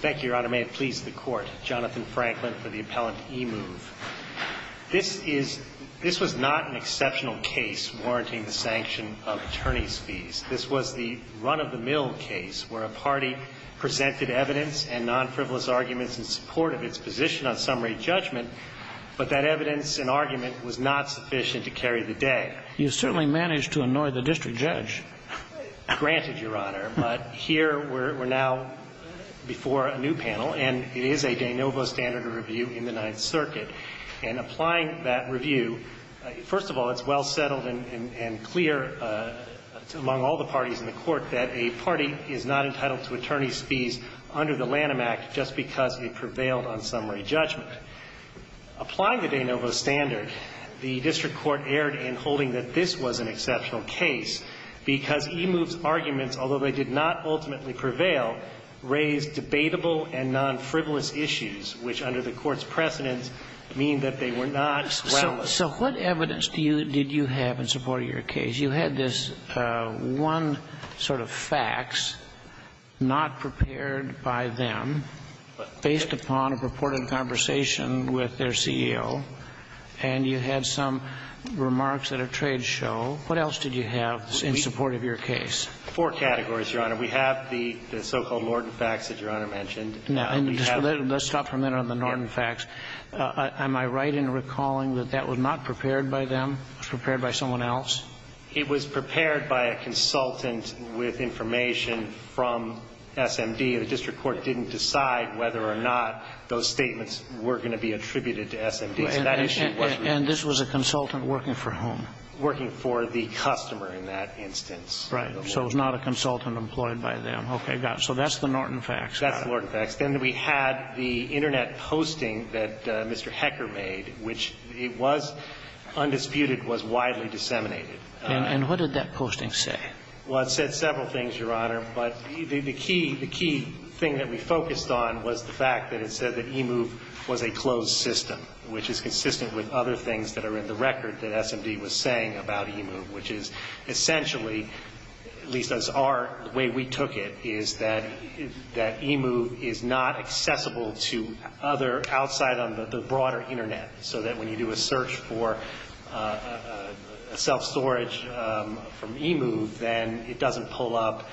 Thank you, Your Honor. May it please the Court, Jonathan Franklin for the Appellant eMove. This is – this was not an exceptional case warranting the sanction of attorney's fees. This was the run-of-the-mill case where a party presented evidence and non-frivolous arguments in support of its position on summary judgment, but that evidence and argument was not sufficient to carry the day. You certainly managed to annoy the district judge. Granted, Your Honor, but here we're now before a new panel, and it is a de novo standard of review in the Ninth Circuit. And applying that review, first of all, it's well settled and clear among all the parties in the Court that a party is not entitled to attorney's fees under the Lanham Act just because it prevailed on summary judgment. But applying the de novo standard, the district court erred in holding that this was an exceptional case because eMove's arguments, although they did not ultimately prevail, raised debatable and non-frivolous issues, which under the Court's precedence mean that they were not well established. So what evidence do you – did you have in support of your case? Because you had this one sort of fax not prepared by them based upon a purported conversation with their CEO, and you had some remarks at a trade show. What else did you have in support of your case? Four categories, Your Honor. We have the so-called Norton fax that Your Honor mentioned. Now, let's stop for a minute on the Norton fax. Am I right in recalling that that was not prepared by them? It was prepared by someone else? It was prepared by a consultant with information from SMD. The district court didn't decide whether or not those statements were going to be attributed to SMD, so that issue was removed. And this was a consultant working for whom? Working for the customer in that instance. Right. So it was not a consultant employed by them. Okay, got it. So that's the Norton fax. That's the Norton fax. Then we had the Internet posting that Mr. Hecker made, which was undisputed, was widely disseminated. And what did that posting say? Well, it said several things, Your Honor, but the key thing that we focused on was the fact that it said that e-move was a closed system, which is consistent with other things that are in the record that SMD was saying about e-move, which is essentially, at least as our way we took it, is that e-move is not accessible to other outside on the broader Internet. So that when you do a search for self-storage from e-move, then it doesn't pull up,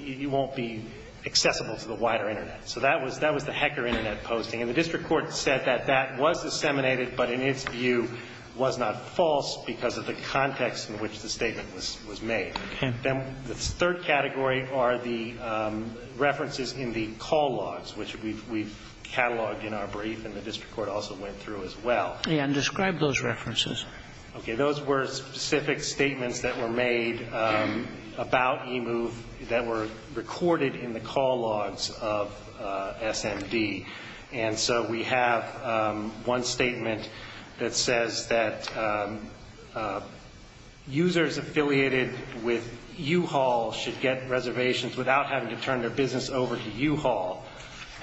you won't be accessible to the wider Internet. So that was the Hecker Internet posting. And the district court said that that was disseminated, but in its view was not made. Then the third category are the references in the call logs, which we've cataloged in our brief and the district court also went through as well. And describe those references. Okay. Those were specific statements that were made about e-move that were recorded in the call logs of SMD. That users affiliated with U-Haul should get reservations without having to turn their business over to U-Haul.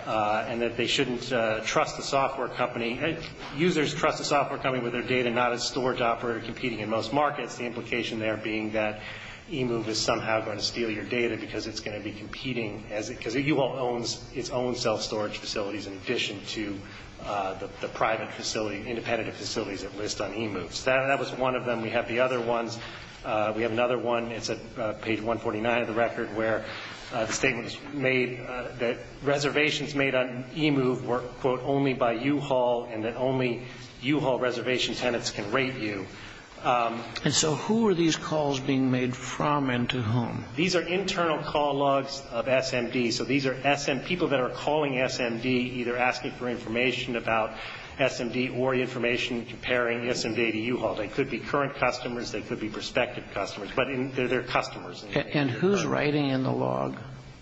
And that they shouldn't trust the software company. Users trust the software company with their data, not a storage operator competing in most markets. The implication there being that e-move is somehow going to steal your data because it's going to be competing, because U-Haul owns its own self-storage facilities in addition to the private facility, independent facilities at least on e-move. So that was one of them. We have the other ones. We have another one. It's at page 149 of the record where the statement is made that reservations made on e-move were, quote, only by U-Haul and that only U-Haul reservation tenants can rate you. And so who are these calls being made from and to whom? These are internal call logs of SMD. So these are SM, people that are calling SMD either asking for information about SMD or information comparing SMD to U-Haul. They could be current customers. They could be prospective customers. But they're customers. And who's writing in the log?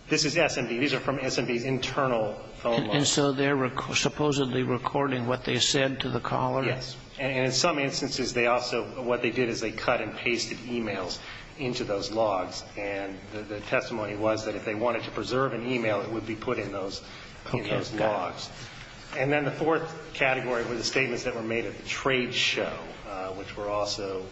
This is SMD. These are from SMD's internal phone log. And so they're supposedly recording what they said to the caller? Yes. And in some instances, they also, what they did is they cut and pasted e-mails into those logs. And the testimony was that if they wanted to preserve an e-mail, it would be put in those logs. And then the fourth category were the statements that were made at the trade show, which were also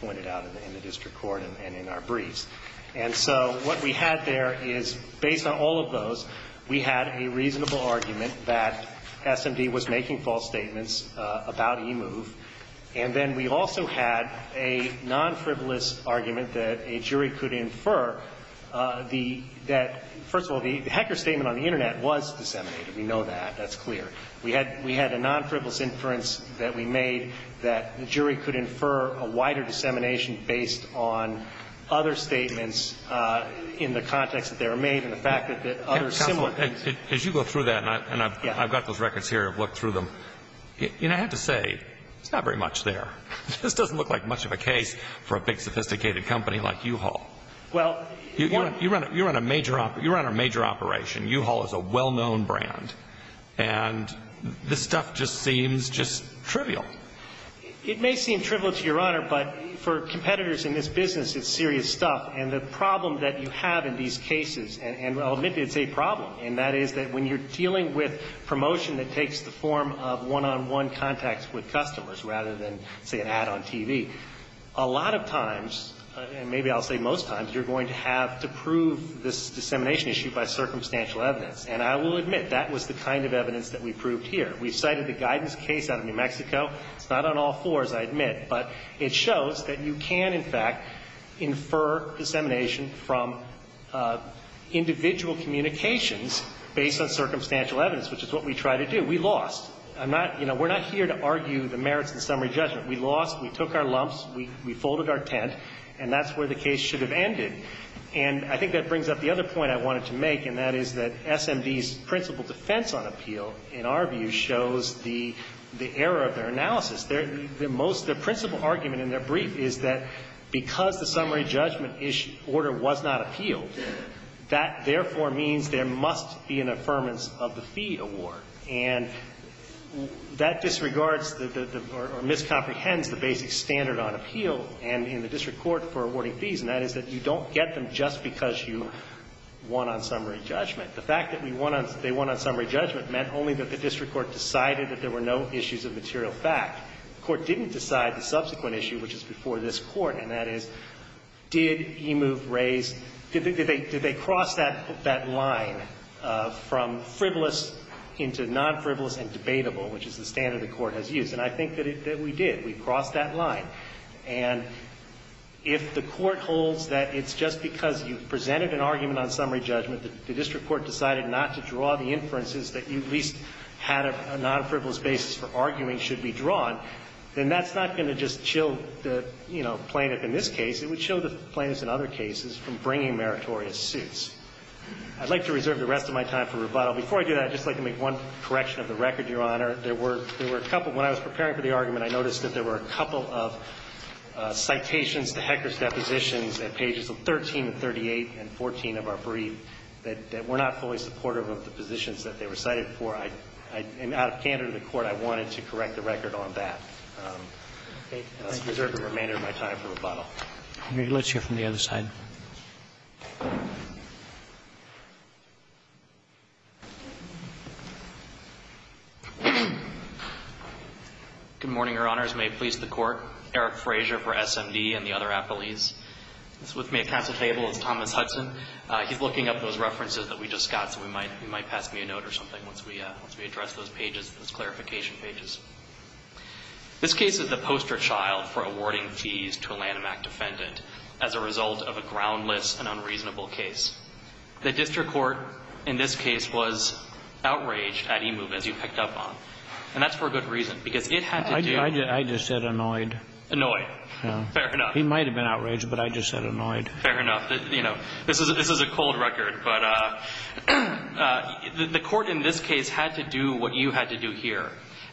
pointed out in the district court and in our briefs. And so what we had there is, based on all of those, we had a reasonable argument that SMD was making false statements about e-move. And then we also had a non-frivolous argument that a jury could infer that, first of all, the HECR statement on the Internet was disseminated. We know that. That's clear. We had a non-frivolous inference that we made that the jury could infer a wider dissemination based on other statements in the context that they were made and the fact that other similar things. Counselor, as you go through that, and I've got those records here. I've looked through them. You know, I have to say, it's not very much there. This doesn't look like much of a case for a big, sophisticated company like U-Haul. Well, you run a major operation. U-Haul is a well-known brand. And this stuff just seems just trivial. It may seem trivial to Your Honor, but for competitors in this business, it's serious stuff. And the problem that you have in these cases, and I'll admit it, it's a problem, and that is that when you're dealing with promotion that takes the form of one-on-one contacts with customers rather than, say, an ad on TV, a lot of times, and maybe I'll say most times, you're going to have to prove this dissemination issue by circumstantial evidence. And I will admit, that was the kind of evidence that we proved here. We've cited the guidance case out of New Mexico. It's not on all fours, I admit, but it shows that you can, in fact, infer dissemination from individual communications based on circumstantial evidence, which is what we try to do. We lost. I'm not, you know, we're not here to argue the merits and summary judgment. We lost. We took our lumps. We folded our tent. And that's where the case should have ended. And I think that brings up the other point I wanted to make, and that is that SMD's principal defense on appeal, in our view, shows the error of their analysis. Their most – their principal argument in their brief is that because the summary judgment order was not appealed, that therefore means there must be an affirmance of the fee award. And that disregards the – or miscomprehends the basic standard on appeal and in the case. You don't get them just because you won on summary judgment. The fact that we won on – they won on summary judgment meant only that the district court decided that there were no issues of material fact. The court didn't decide the subsequent issue, which is before this Court, and that is, did Emuve raise – did they cross that line from frivolous into non-frivolous and debatable, which is the standard the Court has used? And I think that we did. We crossed that line. And if the Court holds that it's just because you presented an argument on summary judgment that the district court decided not to draw the inferences that you at least had a non-frivolous basis for arguing should be drawn, then that's not going to just chill the, you know, plaintiff in this case. It would chill the plaintiff in other cases from bringing meritorious suits. I'd like to reserve the rest of my time for rebuttal. Before I do that, I'd just like to make one correction of the record, Your Honor. There were – there were a couple – when I was preparing for the argument, I noticed that there were a couple of citations to Hecker's depositions at pages of 13 and 38 and 14 of our brief that were not fully supportive of the positions that they were cited for. I – and out of candor to the Court, I wanted to correct the record on that. I'll reserve the remainder of my time for rebuttal. Let's hear from the other side. Good morning, Your Honors. May it please the Court. Eric Fraser for SMD and the other appellees. With me at counsel table is Thomas Hudson. He's looking up those references that we just got, so we might – you might pass me a note or something once we address those pages, those clarification pages. This case is the poster child for awarding fees to a Lanham Act defendant as a result of a groundless and unreasonable case. The district court in this case was outraged at Emove as you picked up on, and that's for a good reason, because it had to do – I just said annoyed. Annoyed. Fair enough. He might have been outraged, but I just said annoyed. Fair enough. You know, this is a cold record, but the court in this case had to do what you had to do here.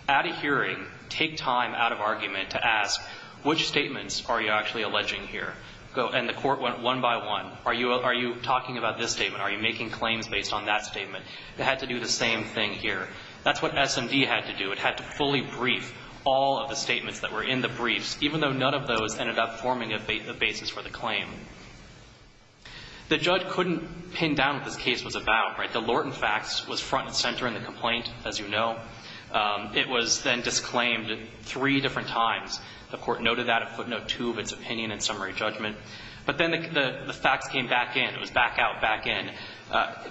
At a hearing, take time out of argument to ask, which statements are you actually alleging here? And the court went one by one. Are you talking about this statement? Are you making claims based on that statement? It had to do the same thing here. That's what SMD had to do. It had to fully brief all of the statements that were in the briefs, even though none of those ended up forming a basis for the claim. The judge couldn't pin down what this case was about, right? The Lorton facts was front and center in the complaint, as you know. It was then disclaimed three different times. The court noted that at footnote two of its opinion and summary judgment. But then the facts came back in. It was back out, back in.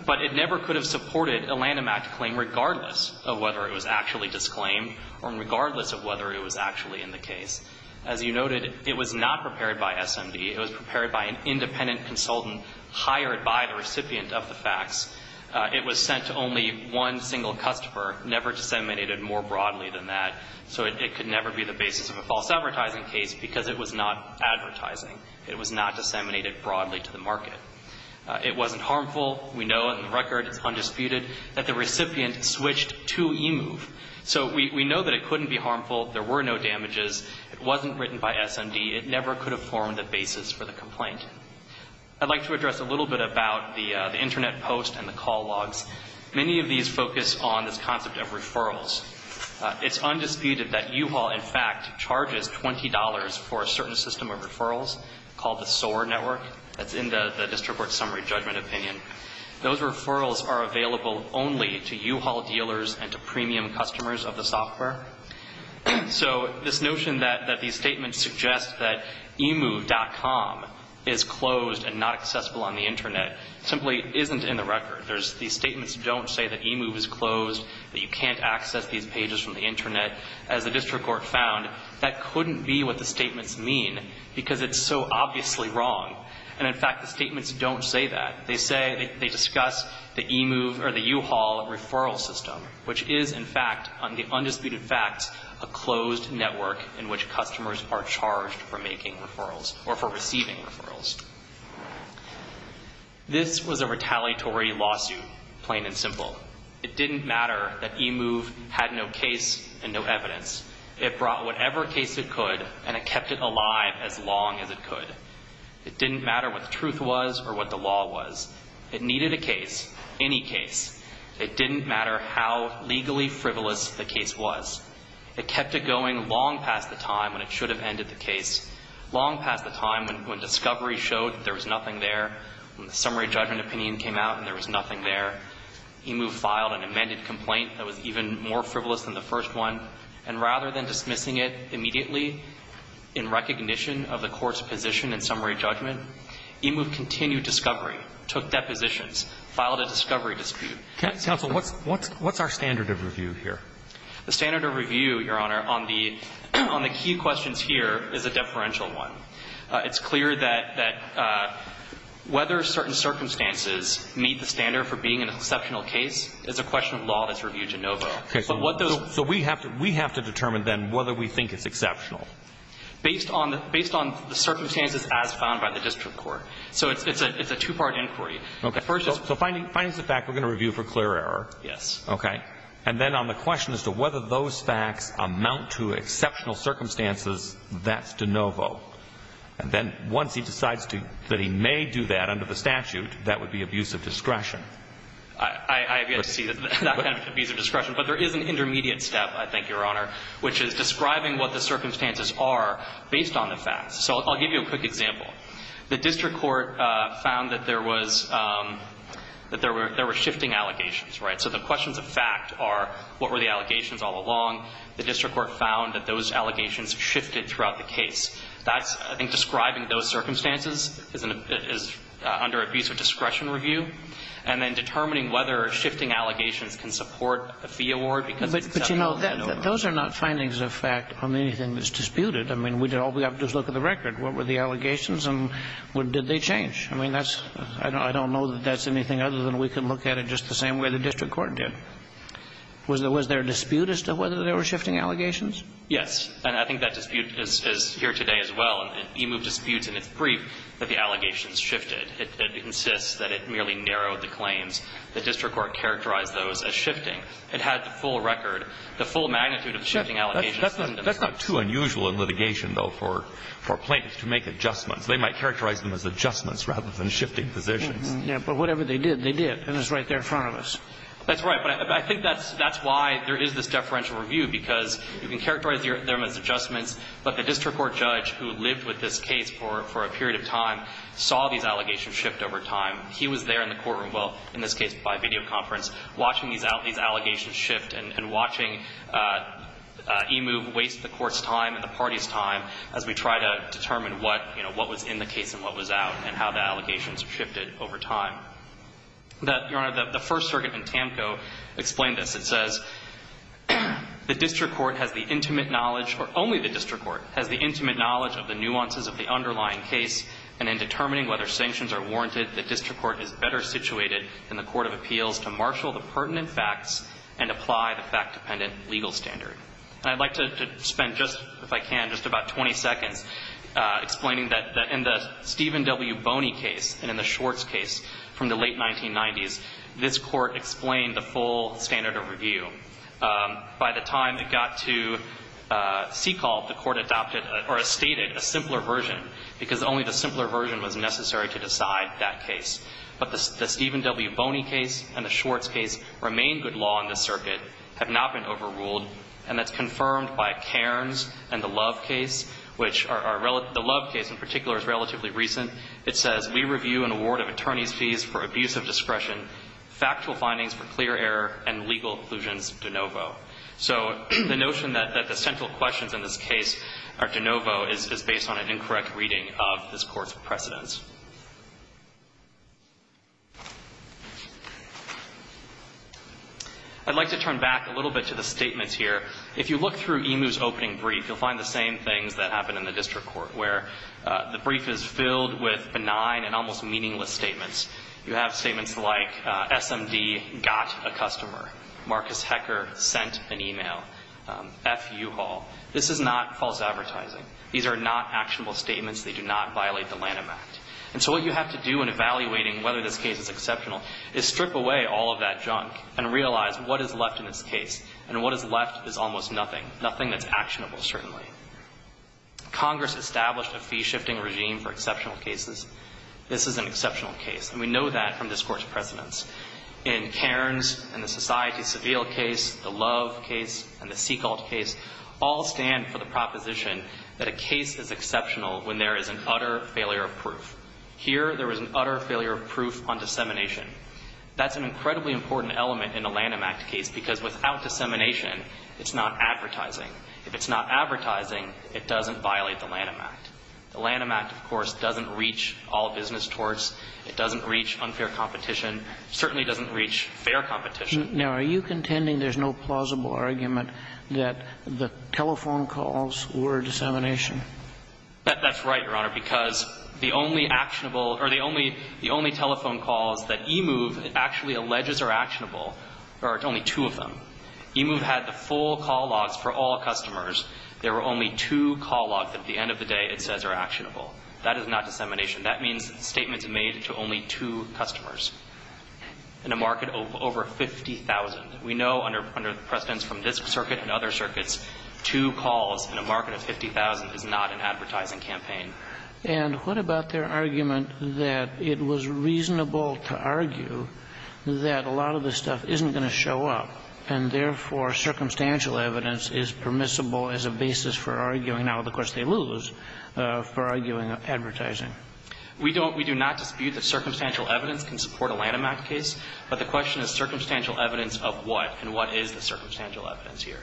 But it never could have supported a Lanham Act claim, regardless of whether it was actually disclaimed or regardless of whether it was actually in the case. As you noted, it was not prepared by SMD. It was prepared by an independent consultant hired by the recipient of the facts. It was sent to only one single customer, never disseminated more broadly than that, so it could never be the basis of a false advertising case because it was not advertising. It was not disseminated broadly to the market. It wasn't harmful. We know in the record, it's undisputed, that the recipient switched to eMove. So we know that it couldn't be harmful. There were no damages. It wasn't written by SMD. It never could have formed a basis for the complaint. I'd like to address a little bit about the Internet post and the call logs. Many of these focus on this concept of referrals. It's undisputed that U-Haul, in fact, charges $20 for a certain system of referrals called the SOAR network. That's in the district court summary judgment opinion. Those referrals are available only to U-Haul dealers and to premium customers of the software. So this notion that these statements suggest that eMove.com is closed and not accessible on the Internet simply isn't in the record. These statements don't say that eMove is closed, that you can't access these pages from the Internet. As the district court found, that couldn't be what the statements mean because it's so obviously wrong. And, in fact, the statements don't say that. They say they discuss the eMove or the U-Haul referral system, which is, in fact, on the undisputed facts, a closed network in which customers are charged for making referrals or for receiving referrals. This was a retaliatory lawsuit, plain and simple. It didn't matter that eMove had no case and no evidence. It brought whatever case it could, and it kept it alive as long as it could. It didn't matter what the truth was or what the law was. It needed a case, any case. It didn't matter how legally frivolous the case was. It kept it going long past the time when it should have ended the case, long past the time when discovery showed there was nothing there, when the summary judgment opinion came out and there was nothing there. eMove filed an amended complaint that was even more frivolous than the first one. And rather than dismissing it immediately in recognition of the court's position in summary judgment, eMove continued discovery, took depositions, filed a discovery dispute. Counsel, what's our standard of review here? The standard of review, Your Honor, on the key questions here is a deferential one. It's clear that whether certain circumstances meet the standard for being an exceptional case is a question of law that's reviewed de novo. Okay, so we have to determine then whether we think it's exceptional. Based on the circumstances as found by the district court. So it's a two-part inquiry. Okay, so finding is the fact we're going to review for clear error. Yes. Okay. And then on the question as to whether those facts amount to exceptional circumstances, that's de novo. And then once he decides that he may do that under the statute, that would be abuse of discretion. I have yet to see that kind of abuse of discretion. But there is an intermediate step, I think, Your Honor, which is describing what the circumstances are based on the facts. So I'll give you a quick example. The district court found that there was shifting allegations, right? So the questions of fact are what were the allegations all along. The district court found that those allegations shifted throughout the case. That's, I think, describing those circumstances as under abuse of discretion review. And then determining whether shifting allegations can support a fee award because it's exceptional. But, you know, those are not findings of fact on anything that's disputed. I mean, all we have to do is look at the record. What were the allegations and did they change? I mean, that's – I don't know that that's anything other than we can look at it just the same way the district court did. Was there a dispute as to whether there were shifting allegations? Yes. And I think that dispute is here today as well. EMU disputes and it's brief that the allegations shifted. It insists that it merely narrowed the claims. The district court characterized those as shifting. It had the full record, the full magnitude of the shifting allegations. That's not too unusual in litigation, though, for plaintiffs to make adjustments. They might characterize them as adjustments rather than shifting positions. Yeah, but whatever they did, they did. And it's right there in front of us. That's right. But I think that's why there is this deferential review because you can characterize them as adjustments. But the district court judge who lived with this case for a period of time saw these allegations shift over time. He was there in the courtroom, well, in this case by video conference, watching these allegations shift and watching EMU waste the court's time and the party's time as we try to determine what, you know, what was in the case and what was out and how the allegations shifted over time. Your Honor, the First Circuit in TAMCO explained this. It says, The district court has the intimate knowledge or only the district court has the intimate knowledge of the nuances of the underlying case and in determining whether sanctions are warranted, the district court is better situated than the court of appeals to marshal the pertinent facts and apply the fact-dependent legal standard. And I'd like to spend just, if I can, just about 20 seconds explaining that in the Stephen W. Boney case and in the Schwartz case from the late 1990s, this court explained the full standard of review. By the time it got to SECALT, the court adopted or stated a simpler version because only the simpler version was necessary to decide that case. But the Stephen W. Boney case and the Schwartz case remain good law in this circuit, have not been overruled, and that's confirmed by Cairns and the Love case, which are, the Love case in particular is relatively recent. It says, We review an award of attorney's fees for abuse of discretion, factual findings for clear error, and legal inclusions de novo. So the notion that the central questions in this case are de novo is based on an incorrect reading of this court's precedents. I'd like to turn back a little bit to the statements here. If you look through Emu's opening brief, you'll find the same things that happen in the district court, where the brief is filled with benign and almost meaningless statements. You have statements like, SMD got a customer. Marcus Hecker sent an email. F. U. Hall. This is not false advertising. These are not actionable statements. They do not violate the Lanham Act. And so what you have to do in evaluating whether this case is exceptional is strip away all of that junk and realize what is left in this case, and what is left is almost nothing, nothing that's actionable, certainly. Congress established a fee-shifting regime for exceptional cases. This is an exceptional case, and we know that from this court's precedents. In Cairns, in the Society Seville case, the Love case, and the Segalt case, all stand for the proposition that a case is exceptional when there is an utter failure of proof. Here, there is an utter failure of proof on dissemination. That's an incredibly important element in a Lanham Act case, because without dissemination, it's not advertising. If it's not advertising, it doesn't violate the Lanham Act. The Lanham Act, of course, doesn't reach all business torts. It doesn't reach unfair competition. It certainly doesn't reach fair competition. Now, are you contending there's no plausible argument that the telephone calls were dissemination? That's right, Your Honor, because the only actionable or the only telephone calls that eMove actually alleges are actionable are only two of them. eMove had the full call logs for all customers. There were only two call logs that at the end of the day it says are actionable. That is not dissemination. That means statements made to only two customers in a market of over 50,000. We know under precedents from this circuit and other circuits, two calls in a market of 50,000 is not an advertising campaign. And what about their argument that it was reasonable to argue that a lot of this stuff isn't going to show up And, therefore, circumstantial evidence is permissible as a basis for arguing now, of course, they lose, for arguing advertising. We don't we do not dispute that circumstantial evidence can support a Lanham Act case, but the question is circumstantial evidence of what and what is the circumstantial evidence here.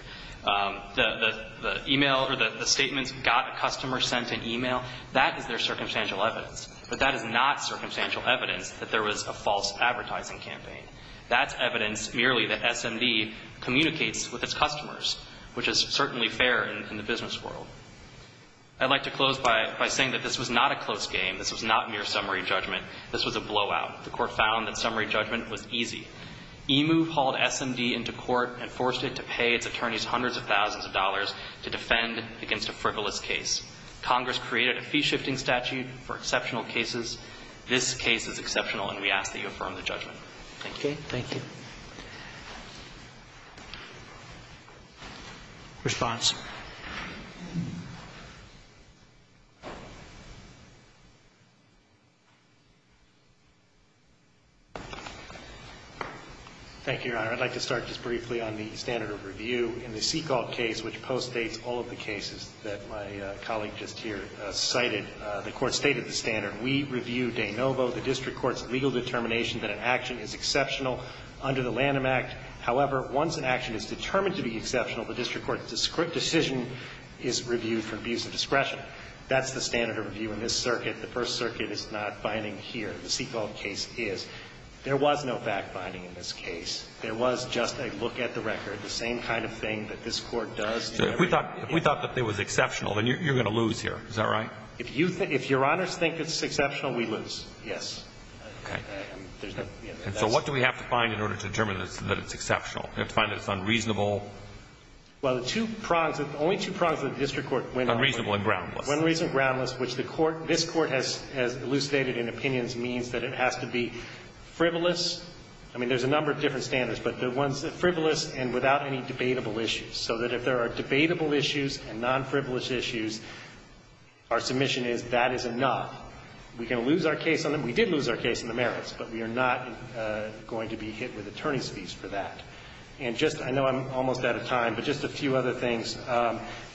The e-mail or the statements got a customer sent an e-mail, that is their circumstantial evidence, but that is not circumstantial evidence that there was a false advertising campaign. That's evidence merely that SMD communicates with its customers, which is certainly fair in the business world. I'd like to close by saying that this was not a close game. This was not mere summary judgment. This was a blowout. The court found that summary judgment was easy. EMU hauled SMD into court and forced it to pay its attorneys hundreds of thousands of dollars to defend against a frivolous case. Congress created a fee-shifting statute for exceptional cases. This case is exceptional, and we ask that you affirm the judgment. Thank you. Thank you. Thank you, Your Honor. I'd like to start just briefly on the standard of review. In the Seek All case, which postdates all of the cases that my colleague just here cited, the court stated the standard. We review de novo the district court's legal determination that an action is exceptional under the Lanham Act. However, once an action is determined to be exceptional, the district court's decision is reviewed from views of discretion. That's the standard of review in this circuit. The First Circuit is not finding here. The Seek All case is. There was no fact-finding in this case. There was just a look at the record, the same kind of thing that this Court does. So if we thought that it was exceptional, then you're going to lose here. Is that right? If you think, if Your Honors think it's exceptional, we lose. Yes. Okay. So what do we have to find in order to determine that it's exceptional? We have to find that it's unreasonable. Well, the two prongs, the only two prongs of the district court. Unreasonable and groundless. Unreasonable and groundless, which the Court, this Court has elucidated in opinions means that it has to be frivolous. I mean, there's a number of different standards, but the ones that frivolous and without any debatable issues, so that if there are debatable issues and nonfrivolous issues, our submission is that is enough. We can lose our case on them. We did lose our case on the merits, but we are not going to be hit with attorney's fees for that. And just, I know I'm almost out of time, but just a few other things.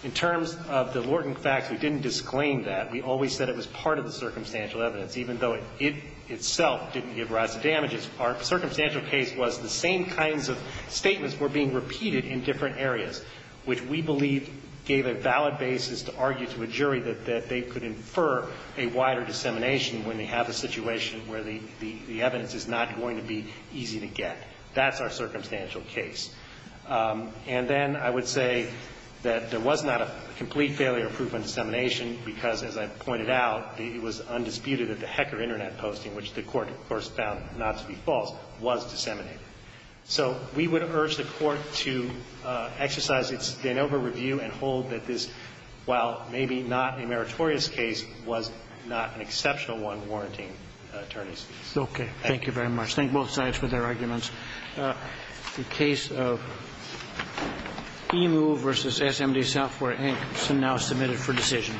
In terms of the Lorton facts, we didn't disclaim that. We always said it was part of the circumstantial evidence, even though it itself didn't give rise to damages. Our circumstantial case was the same kinds of statements were being repeated in different areas, which we believe gave a valid basis to argue to a jury that they could infer a wider dissemination when they have a situation where the evidence is not going to be easy to get. That's our circumstantial case. And then I would say that there was not a complete failure of proof in dissemination because, as I pointed out, it was undisputed that the Hecker Internet posting, which the Court, of course, found not to be false, was disseminated. So we would urge the Court to exercise its Danova review and hold that this, while maybe not a meritorious case, was not an exceptional one warranting attorney's fees. Okay. Thank you very much. Thank both sides for their arguments. The case of EMU v. SMD-Salford-Ankerson now submitted for decision.